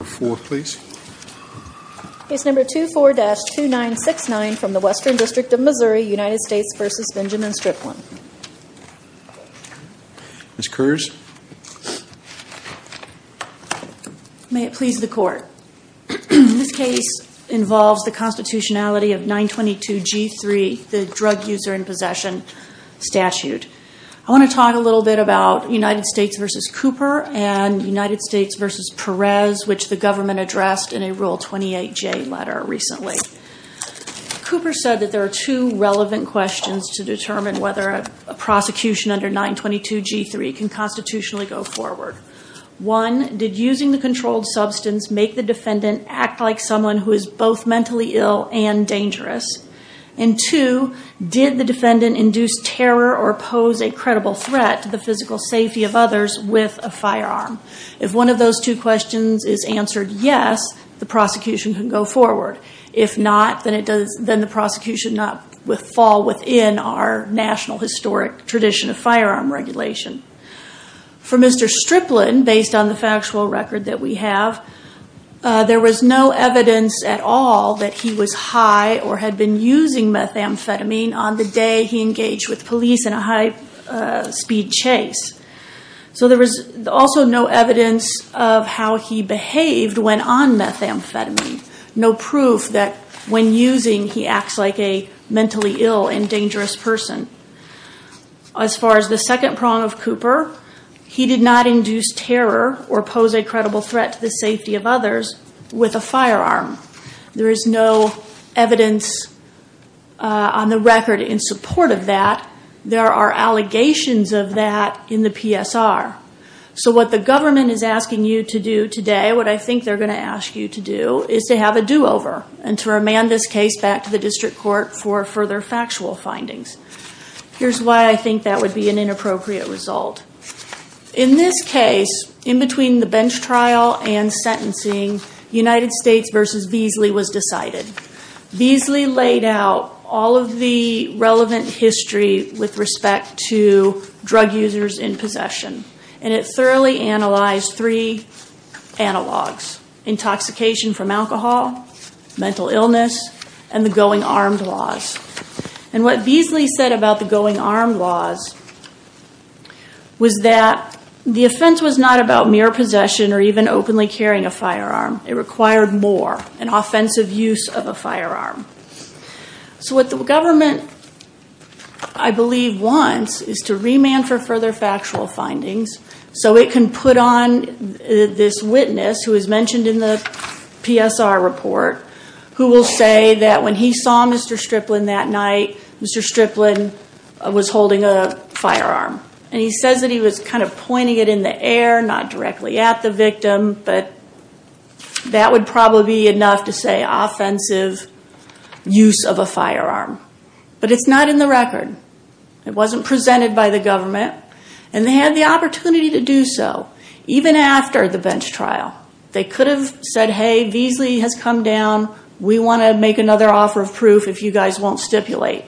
May it please the court. This case involves the constitutionality of 922 G3, the drug user in possession statute. I want to talk a little bit about United States v. Cooper and United States v. Perez, which the government addressed in a Rule 28J letter recently. Cooper said that there are two relevant questions to determine whether a prosecution under 922 G3 can constitutionally go forward. One, did using the controlled substance make the defendant act like someone who is both mentally ill and dangerous? And two, did the defendant induce terror or pose a credible threat to the physical safety of others with a firearm? If one of those two questions is answered yes, the prosecution can go forward. If not, then the prosecution would fall within our national historic tradition of firearm regulation. For Mr. Striplin, based on the factual record that we have, there was no evidence at all that he was high or had been using methamphetamine on the day he engaged with police in a high-speed chase. So there was also no evidence of how he behaved when on methamphetamine, no proof that when using he acts like a mentally ill and dangerous person. As far as the second prong of Cooper, he did not induce terror or pose a credible threat to the with a firearm. There is no evidence on the record in support of that. There are allegations of that in the PSR. So what the government is asking you to do today, what I think they're going to ask you to do, is to have a do-over and to remand this case back to the district court for further factual findings. Here's why I think that would be an inappropriate result. In this case, in between the bench trial and sentencing, United States v. Beasley was decided. Beasley laid out all of the relevant history with respect to drug users in possession, and it thoroughly analyzed three analogs. Intoxication from alcohol, mental illness, and the going armed laws. And what Beasley said about the going armed laws was that the offense was not about mere possession or even openly carrying a firearm. It required more, an offensive use of a firearm. So what the government, I believe, wants is to remand for further factual findings so it can put on this witness who is mentioned in the PSR report, who will say that when he saw Mr. Striplin that night, Mr. Striplin was holding a firearm. And he says that he was kind of pointing it in the air, not directly at the victim, but that would probably be enough to say offensive use of a firearm. But it's not in the record. It wasn't presented by the government, and they had the opportunity to do so, even after the bench trial. They could have said, hey, Beasley has come down. We want to make another offer of proof if you guys won't stipulate.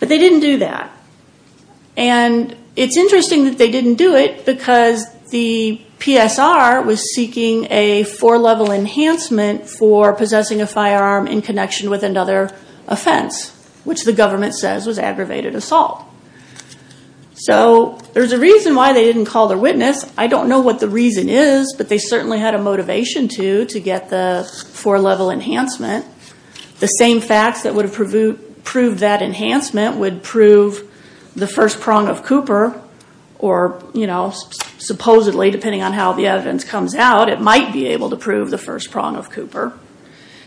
But they didn't do that. And it's interesting that they didn't do it because the PSR was seeking a four-level enhancement for possessing a firearm in connection with another offense, which the government says was aggravated assault. So there's a reason why they didn't call their witness. I don't know what the reason is, but they certainly had a motivation to, to get the four-level enhancement. The same facts that would have proved that enhancement would prove the first prong of Cooper, or supposedly, depending on how the evidence comes out, it might be able to prove the first prong of Cooper.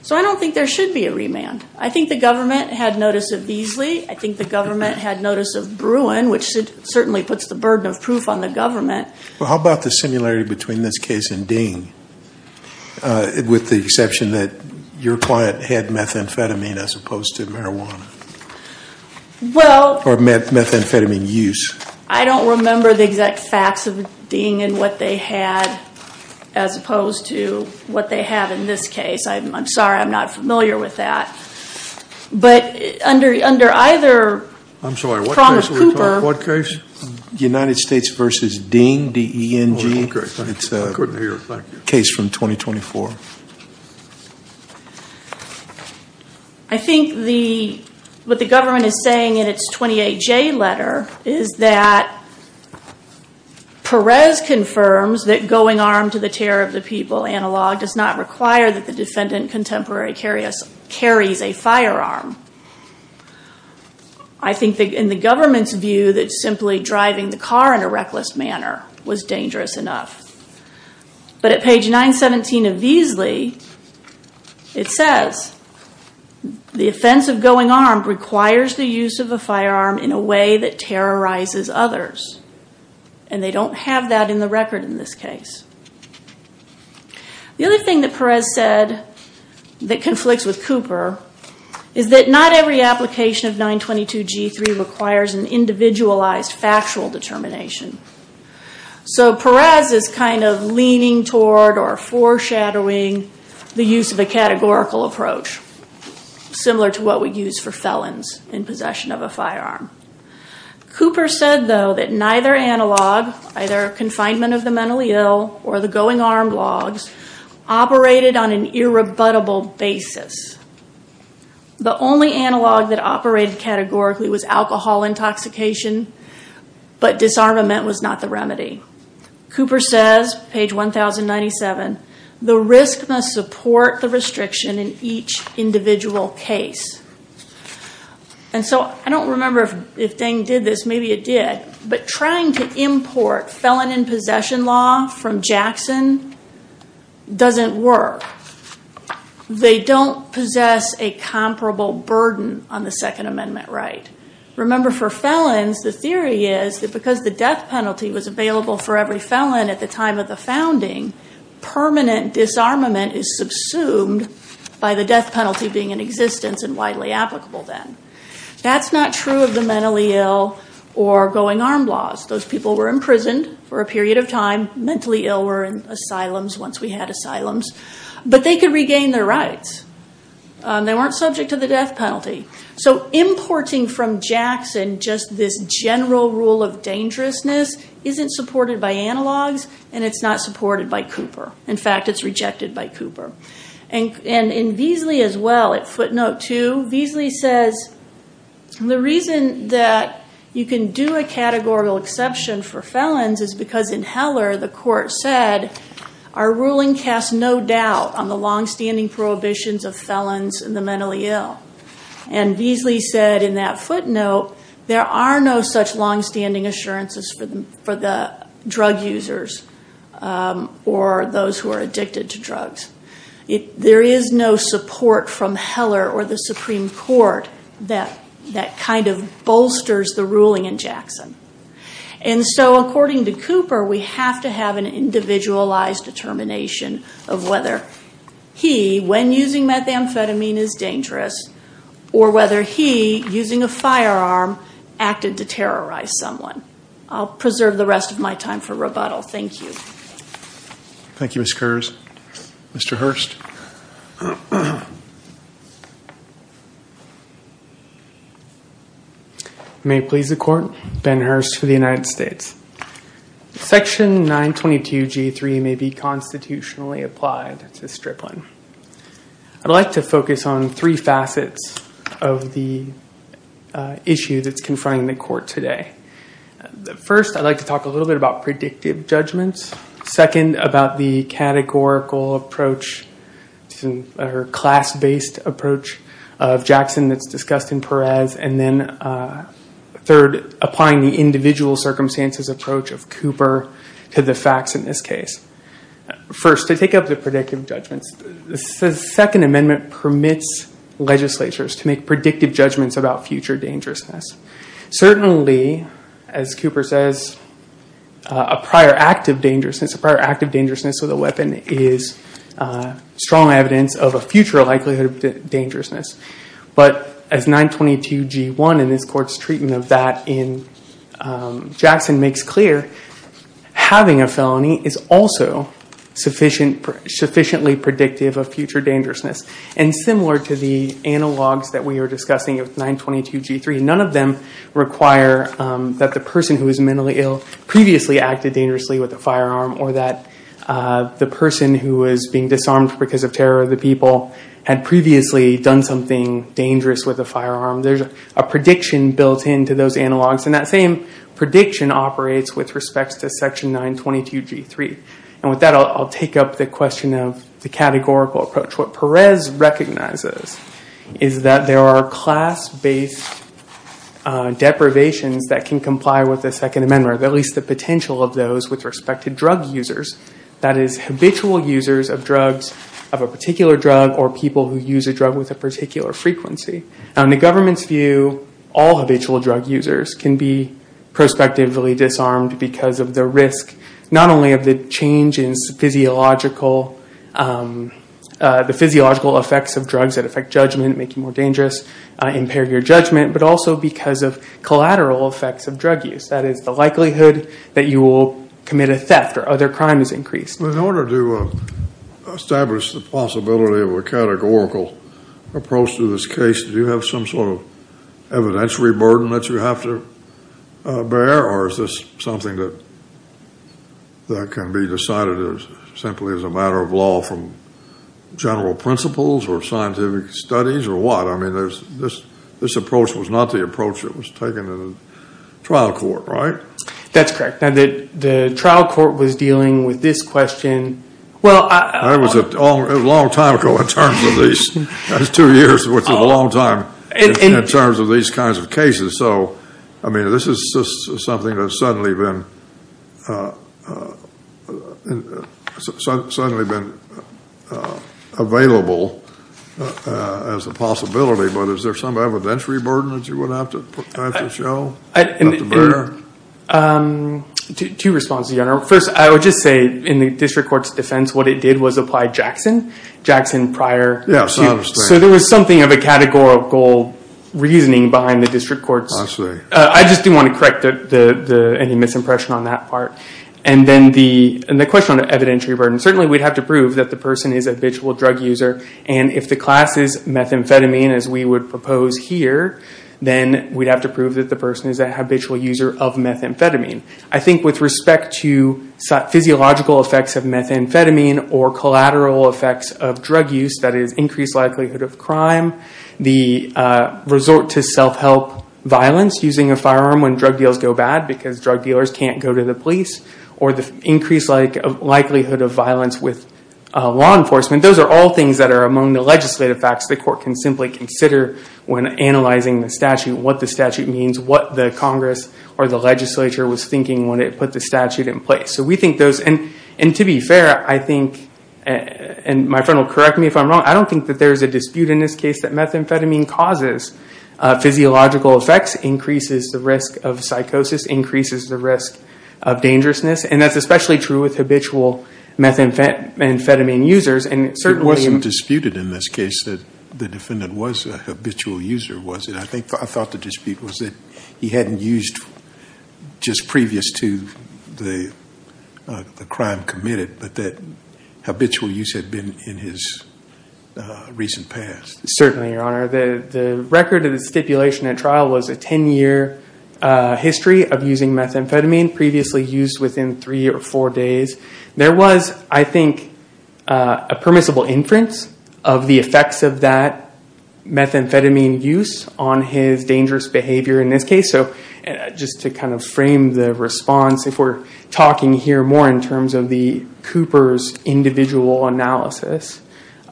So I don't think there should be a remand. I think the government had notice of Beasley. I think the government had notice of Bruin, which certainly puts the burden of proof on the government. Well, how about the similarity between this case and Ding, with the exception that your client had methamphetamine as opposed to marijuana? Well... Or methamphetamine use. I don't remember the exact facts of Ding and what they had as opposed to what they have in this case. I'm sorry, I'm not familiar with that. But under either prong of Cooper... I'm sorry, what case are we talking about? United States v. Ding, D-E-N-G. I couldn't hear it. Thank you. Case from 2024. I think what the government is saying in its 28J letter is that Perez confirms that going armed to the terror of the people analog does not require that the defendant contemporary carries a firearm. I think in the government's view that simply driving the car in a reckless manner was dangerous enough. But at page 917 of Beasley, it says, the offense of going armed requires the use of a firearm in a way that terrorizes others. And they don't have that in the record in this case. The other thing that Perez said that conflicts with Cooper is that not every application of 922G3 requires an individualized factual determination. So Perez is kind of leaning toward or foreshadowing the use of a categorical approach, similar to what we use for felons in possession of a firearm. Cooper said, though, that neither analog, either confinement of the mentally ill or the going armed logs, operated on an irrebuttable basis. The only analog that operated categorically was alcohol intoxication, but disarmament was not the remedy. Cooper says, page 1097, the risk must support the restriction in each individual case. And so I don't remember if Deng did this, maybe it did, but trying to import felon in possession law from Jackson doesn't work. They don't possess a comparable burden on the Second Amendment right. Remember for felons, the theory is that because the death penalty was available for every felon at the time of the founding, permanent disarmament is subsumed by the death penalty being in existence and widely applicable then. That's not true of the mentally ill or going armed laws. Those people were imprisoned for a period of time, mentally ill were in asylums once we had asylums, but they could regain their rights. They weren't subject to the death penalty. So importing from Jackson just this general rule of dangerousness isn't supported by analogs and it's not supported by Cooper. In fact, it's rejected by Cooper. And in Beasley as well, at footnote two, Beasley says, the reason that you can do a categorical exception for felons is because in Heller, the court said, our ruling casts no doubt on the longstanding prohibitions of felons and the mentally ill. And Beasley said in that footnote, there are no such longstanding assurances for the drug users or those who are addicted to drugs. There is no support from Heller or the Supreme Court that kind of bolsters the ruling in Jackson. And so according to Cooper, we have to have an individualized determination of whether he, when using methamphetamine, is dangerous or whether he, using a firearm, acted to terrorize someone. I'll preserve the rest of my time for thank you. Thank you, Ms. Kurz. Mr. Hurst. May it please the court, Ben Hurst for the United States. Section 922G3 may be constitutionally applied to stripling. I'd like to focus on three facets of the issue that's confronting the court today. First, I'd like to talk a little bit about predictive judgments. Second, about the categorical approach or class-based approach of Jackson that's discussed in Perez. And then third, applying the individual circumstances approach of Cooper to the facts in this case. First, to take up the predictive judgments, the Second Amendment permits legislatures to make as Cooper says, a prior act of dangerousness. A prior act of dangerousness with a weapon is strong evidence of a future likelihood of dangerousness. But as 922G1 and this court's treatment of that in Jackson makes clear, having a felony is also sufficiently predictive of future None of them require that the person who was mentally ill previously acted dangerously with a firearm or that the person who was being disarmed because of terror of the people had previously done something dangerous with a firearm. There's a prediction built into those analogs and that same prediction operates with respect to section 922G3. And with that, I'll take up the question of the categorical approach. What Perez recognizes is that there are class-based deprivations that can comply with the Second Amendment, or at least the potential of those with respect to drug users. That is, habitual users of drugs of a particular drug or people who use a drug with a particular frequency. Now in the government's view, all habitual drug users can be prospectively disarmed because of the risk not only of the changes physiological, the physiological effects of drugs that affect judgment, make you more dangerous, impair your judgment, but also because of collateral effects of drug use. That is, the likelihood that you will commit a theft or other crime is increased. In order to establish the possibility of a categorical approach to this case, do you have some sort of evidentiary burden that you have to bear or is this something that can be decided as simply as a matter of law from general principles or scientific studies or what? I mean, this approach was not the approach that was taken in a trial court, right? That's correct. Now the trial court was dealing with this question. Well, it was a long time ago in terms of these. That's two years, which is a long time in terms of these kinds of cases. So, I mean, this is something that's suddenly been available as a possibility, but is there some evidentiary burden that you would have to show, have to bear? Two responses, Your Honor. First, I would just say in the district court's defense, what it did was apply Jackson, Jackson prior. So there was something of a categorical reasoning behind the district courts. I just didn't want to correct any misimpression on that part. And then the question on evidentiary burden, certainly we'd have to prove that the person is a habitual drug user. And if the class is methamphetamine, as we would propose here, then we'd have to prove that the person is a habitual user of methamphetamine. I think with respect to physiological effects of methamphetamine or collateral effects of drug use, that is of crime, the resort to self-help violence using a firearm when drug deals go bad because drug dealers can't go to the police, or the increased likelihood of violence with law enforcement. Those are all things that are among the legislative facts the court can simply consider when analyzing the statute, what the statute means, what the Congress or the legislature was thinking when it put the statute in place. So we think those, and to be fair, I think, and my friend will correct me if I'm wrong, I don't think that there's a dispute in this case that methamphetamine causes physiological effects, increases the risk of psychosis, increases the risk of dangerousness. And that's especially true with habitual methamphetamine users. It wasn't disputed in this case that the defendant was a habitual user, was it? I thought the dispute was that he hadn't used just previous to the crime committed, but that habitual use had been in his recent past. Certainly, Your Honor. The record of the stipulation at trial was a 10-year history of using methamphetamine previously used within three or four days. There was, I think, a permissible inference of the effects of that methamphetamine use on his dangerous behavior in this case. So just to kind of frame the response, if we're talking here more in terms of the Cooper's individual analysis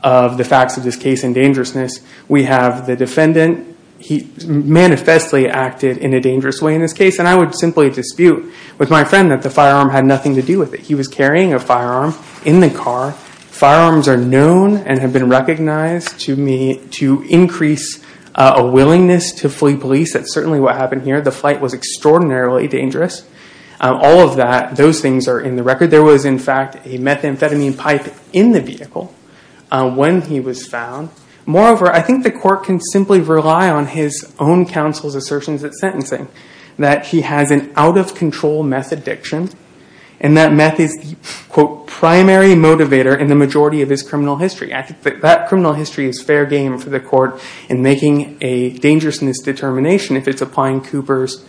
of the facts of this case and dangerousness, we have the defendant, he manifestly acted in a dangerous way in this case. And I would simply dispute with my friend that the firearm had nothing to do with it. He was carrying a firearm in the car. Firearms are known and have been recognized to increase a willingness to flee police. That's certainly what happened here. The flight was extraordinarily dangerous. All of those things are in the record. There was, in fact, a methamphetamine pipe in the vehicle when he was found. Moreover, I think the court can simply rely on his own counsel's assertions at sentencing that he has an out-of-control meth addiction and that meth is the, quote, primary motivator in the majority of his criminal history. I think that criminal history is fair game for the court in making a dangerousness determination if it's applying Cooper's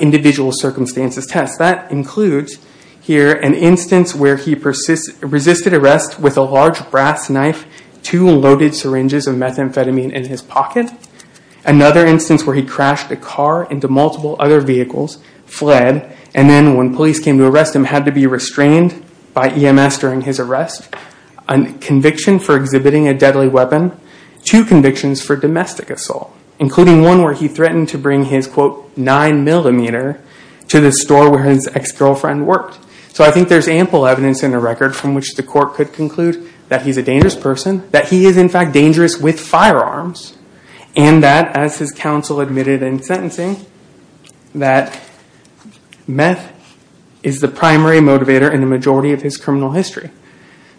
individual circumstances test. That includes here an instance where he resisted arrest with a large brass knife, two loaded syringes of methamphetamine in his pocket, another instance where he crashed a car into multiple other vehicles, fled, and then when police came to arrest him had to be restrained by EMS during his arrest, a conviction for exhibiting a deadly weapon, two convictions for domestic assault, including one where he threatened to bring his, quote, nine millimeter to the store where his ex-girlfriend worked. So I think there's ample evidence in the record from which the court could conclude that he's a dangerous person, that he is, in fact, dangerous with firearms, and that, as his counsel admitted in sentencing, that meth is the primary motivator in the majority of his criminal history.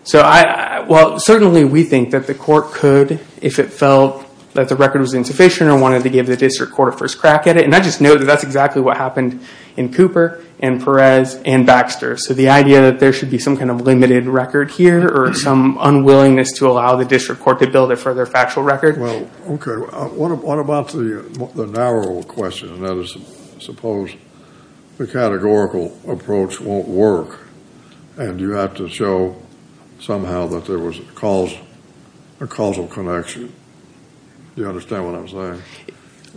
So I, well, certainly we think that the court could, if it felt that the record was insufficient or wanted to give the district court a first crack at it, and I just know that that's exactly what happened in Cooper and Perez and Baxter. So the idea that there should be some kind of limited record here or some unwillingness to allow the district court to build a further factual record. Well, okay. What about the narrow question? That is, suppose the categorical approach won't work and you have to show somehow that there was a causal connection. You understand what I'm saying?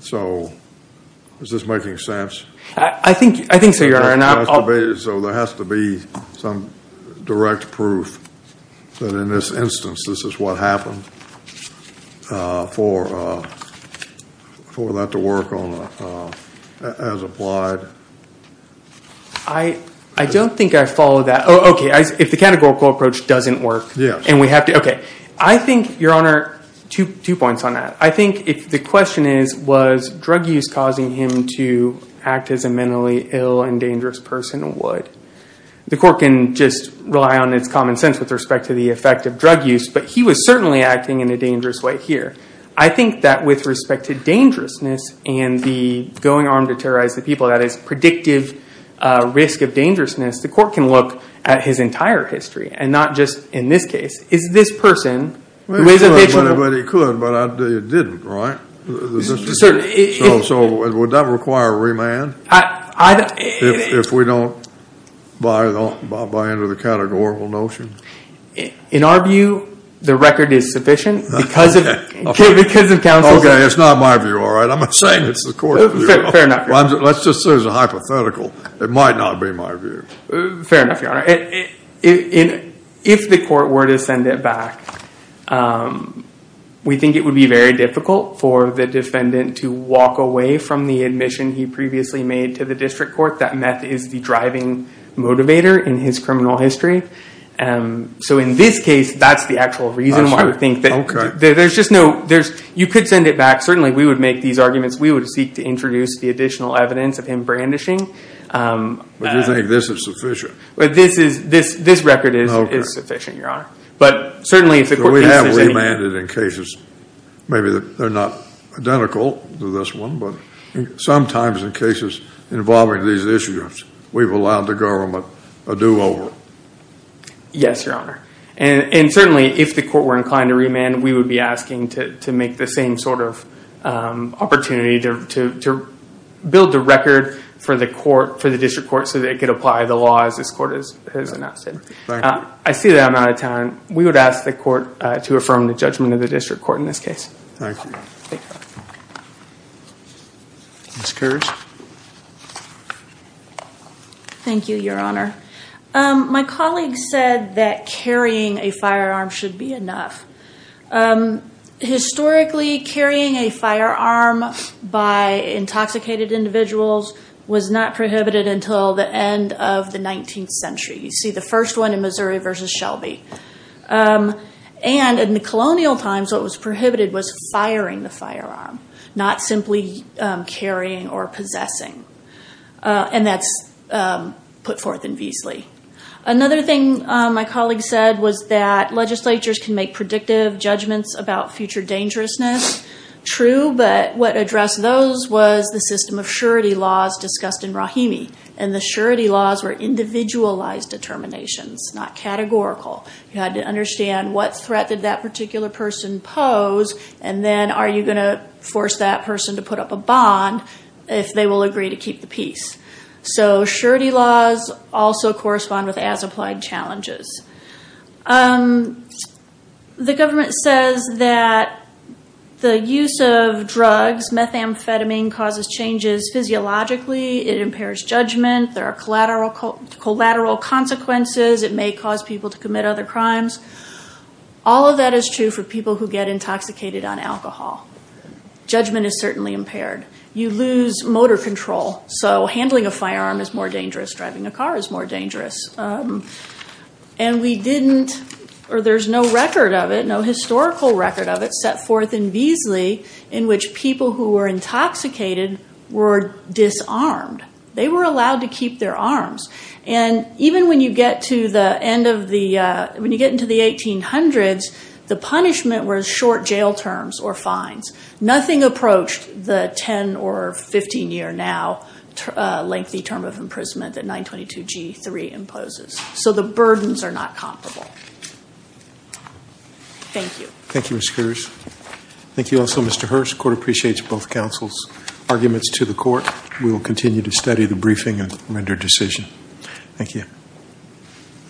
So is this making sense? I think, I think so, Your Honor. So there has to be some direct proof that, in this instance, this is what happened for that to work as applied. I don't think I follow that. Oh, okay. If the categorical approach doesn't work. Yes. And we have to, okay. I think, Your Honor, two points on that. I think the question is, drug use causing him to act as a mentally ill and dangerous person would. The court can just rely on its common sense with respect to the effect of drug use, but he was certainly acting in a dangerous way here. I think that with respect to dangerousness and the going armed to terrorize the people, that is, predictive risk of dangerousness, the court can look at his entire history and not just, in this case, is this person who is a victim. Well, he could, but he didn't, right? Certainly. So would that require remand if we don't buy into the categorical notion? In our view, the record is sufficient because of counsel. Okay. It's not my view, all right? I'm not saying it's the court's view. Fair enough, Your Honor. Let's just say it's a hypothetical. It might not be my view. Fair enough, Your Honor. If the court were to send it back, we think it would be very difficult for the defendant to walk away from the admission he previously made to the district court that meth is the driving motivator in his criminal history. So in this case, that's the actual reason why we think that... There's just no... You could send it back. Certainly, we would make these arguments. We would seek to introduce the additional evidence of him brandishing. But you think this is sufficient? This record is sufficient, Your Honor. But certainly, if the court... We have remanded in cases. Maybe they're not identical to this one, but sometimes in cases involving these issues, we've allowed the government a do-over. Yes, Your Honor. And certainly, if the court were inclined to remand, we would be asking to make the same sort of opportunity to build the record for the district court so that it could apply the laws this court has announced. I see that I'm out of time. We would ask the court to affirm the judgment of the district court in this case. Thank you. Thank you. Ms. Kersh. Thank you, Your Honor. My colleague said that carrying a firearm should be enough. Historically, carrying a firearm by intoxicated individuals was not prohibited until the end of the 19th century. You see the first one in Missouri versus Shelby. And in the colonial times, what was prohibited was firing the firearm, not simply carrying or possessing. And that's put forth in Veasley. Another thing my colleague said was that legislatures can make predictive judgments about future dangerousness. True, but what addressed those was the system of surety laws discussed in Rahimi. And the surety laws were individualized determinations, not categorical. You had to understand what threat did that particular person pose, and then are you going to force that person to put up a bond if they will agree to keep the peace? So surety laws also correspond with as-applied challenges. The government says that the use of drugs, methamphetamine, causes changes physiologically. It impairs judgment. There are collateral consequences. It may cause people to commit other crimes. All of that is true for people who get intoxicated on alcohol. Judgment is certainly impaired. You lose motor control. So handling a firearm is more dangerous. Driving a car is more dangerous. And we didn't, or there's no record of it, no historical record of it, set forth in Veasley in which people who were intoxicated were disarmed. They were allowed to keep their arms. And even when you get to the end of the, when you get into the 1800s, the punishment was short jail terms or fines. Nothing approached the 10 or 15 year now lengthy term of imprisonment that 922 G3 imposes. So the burdens are not comparable. Thank you. Thank you, Ms. Coors. Thank you also, Mr. Hurst. Court appreciates both counsel's arguments to the court. We will continue to study the briefing and render decision. Thank you.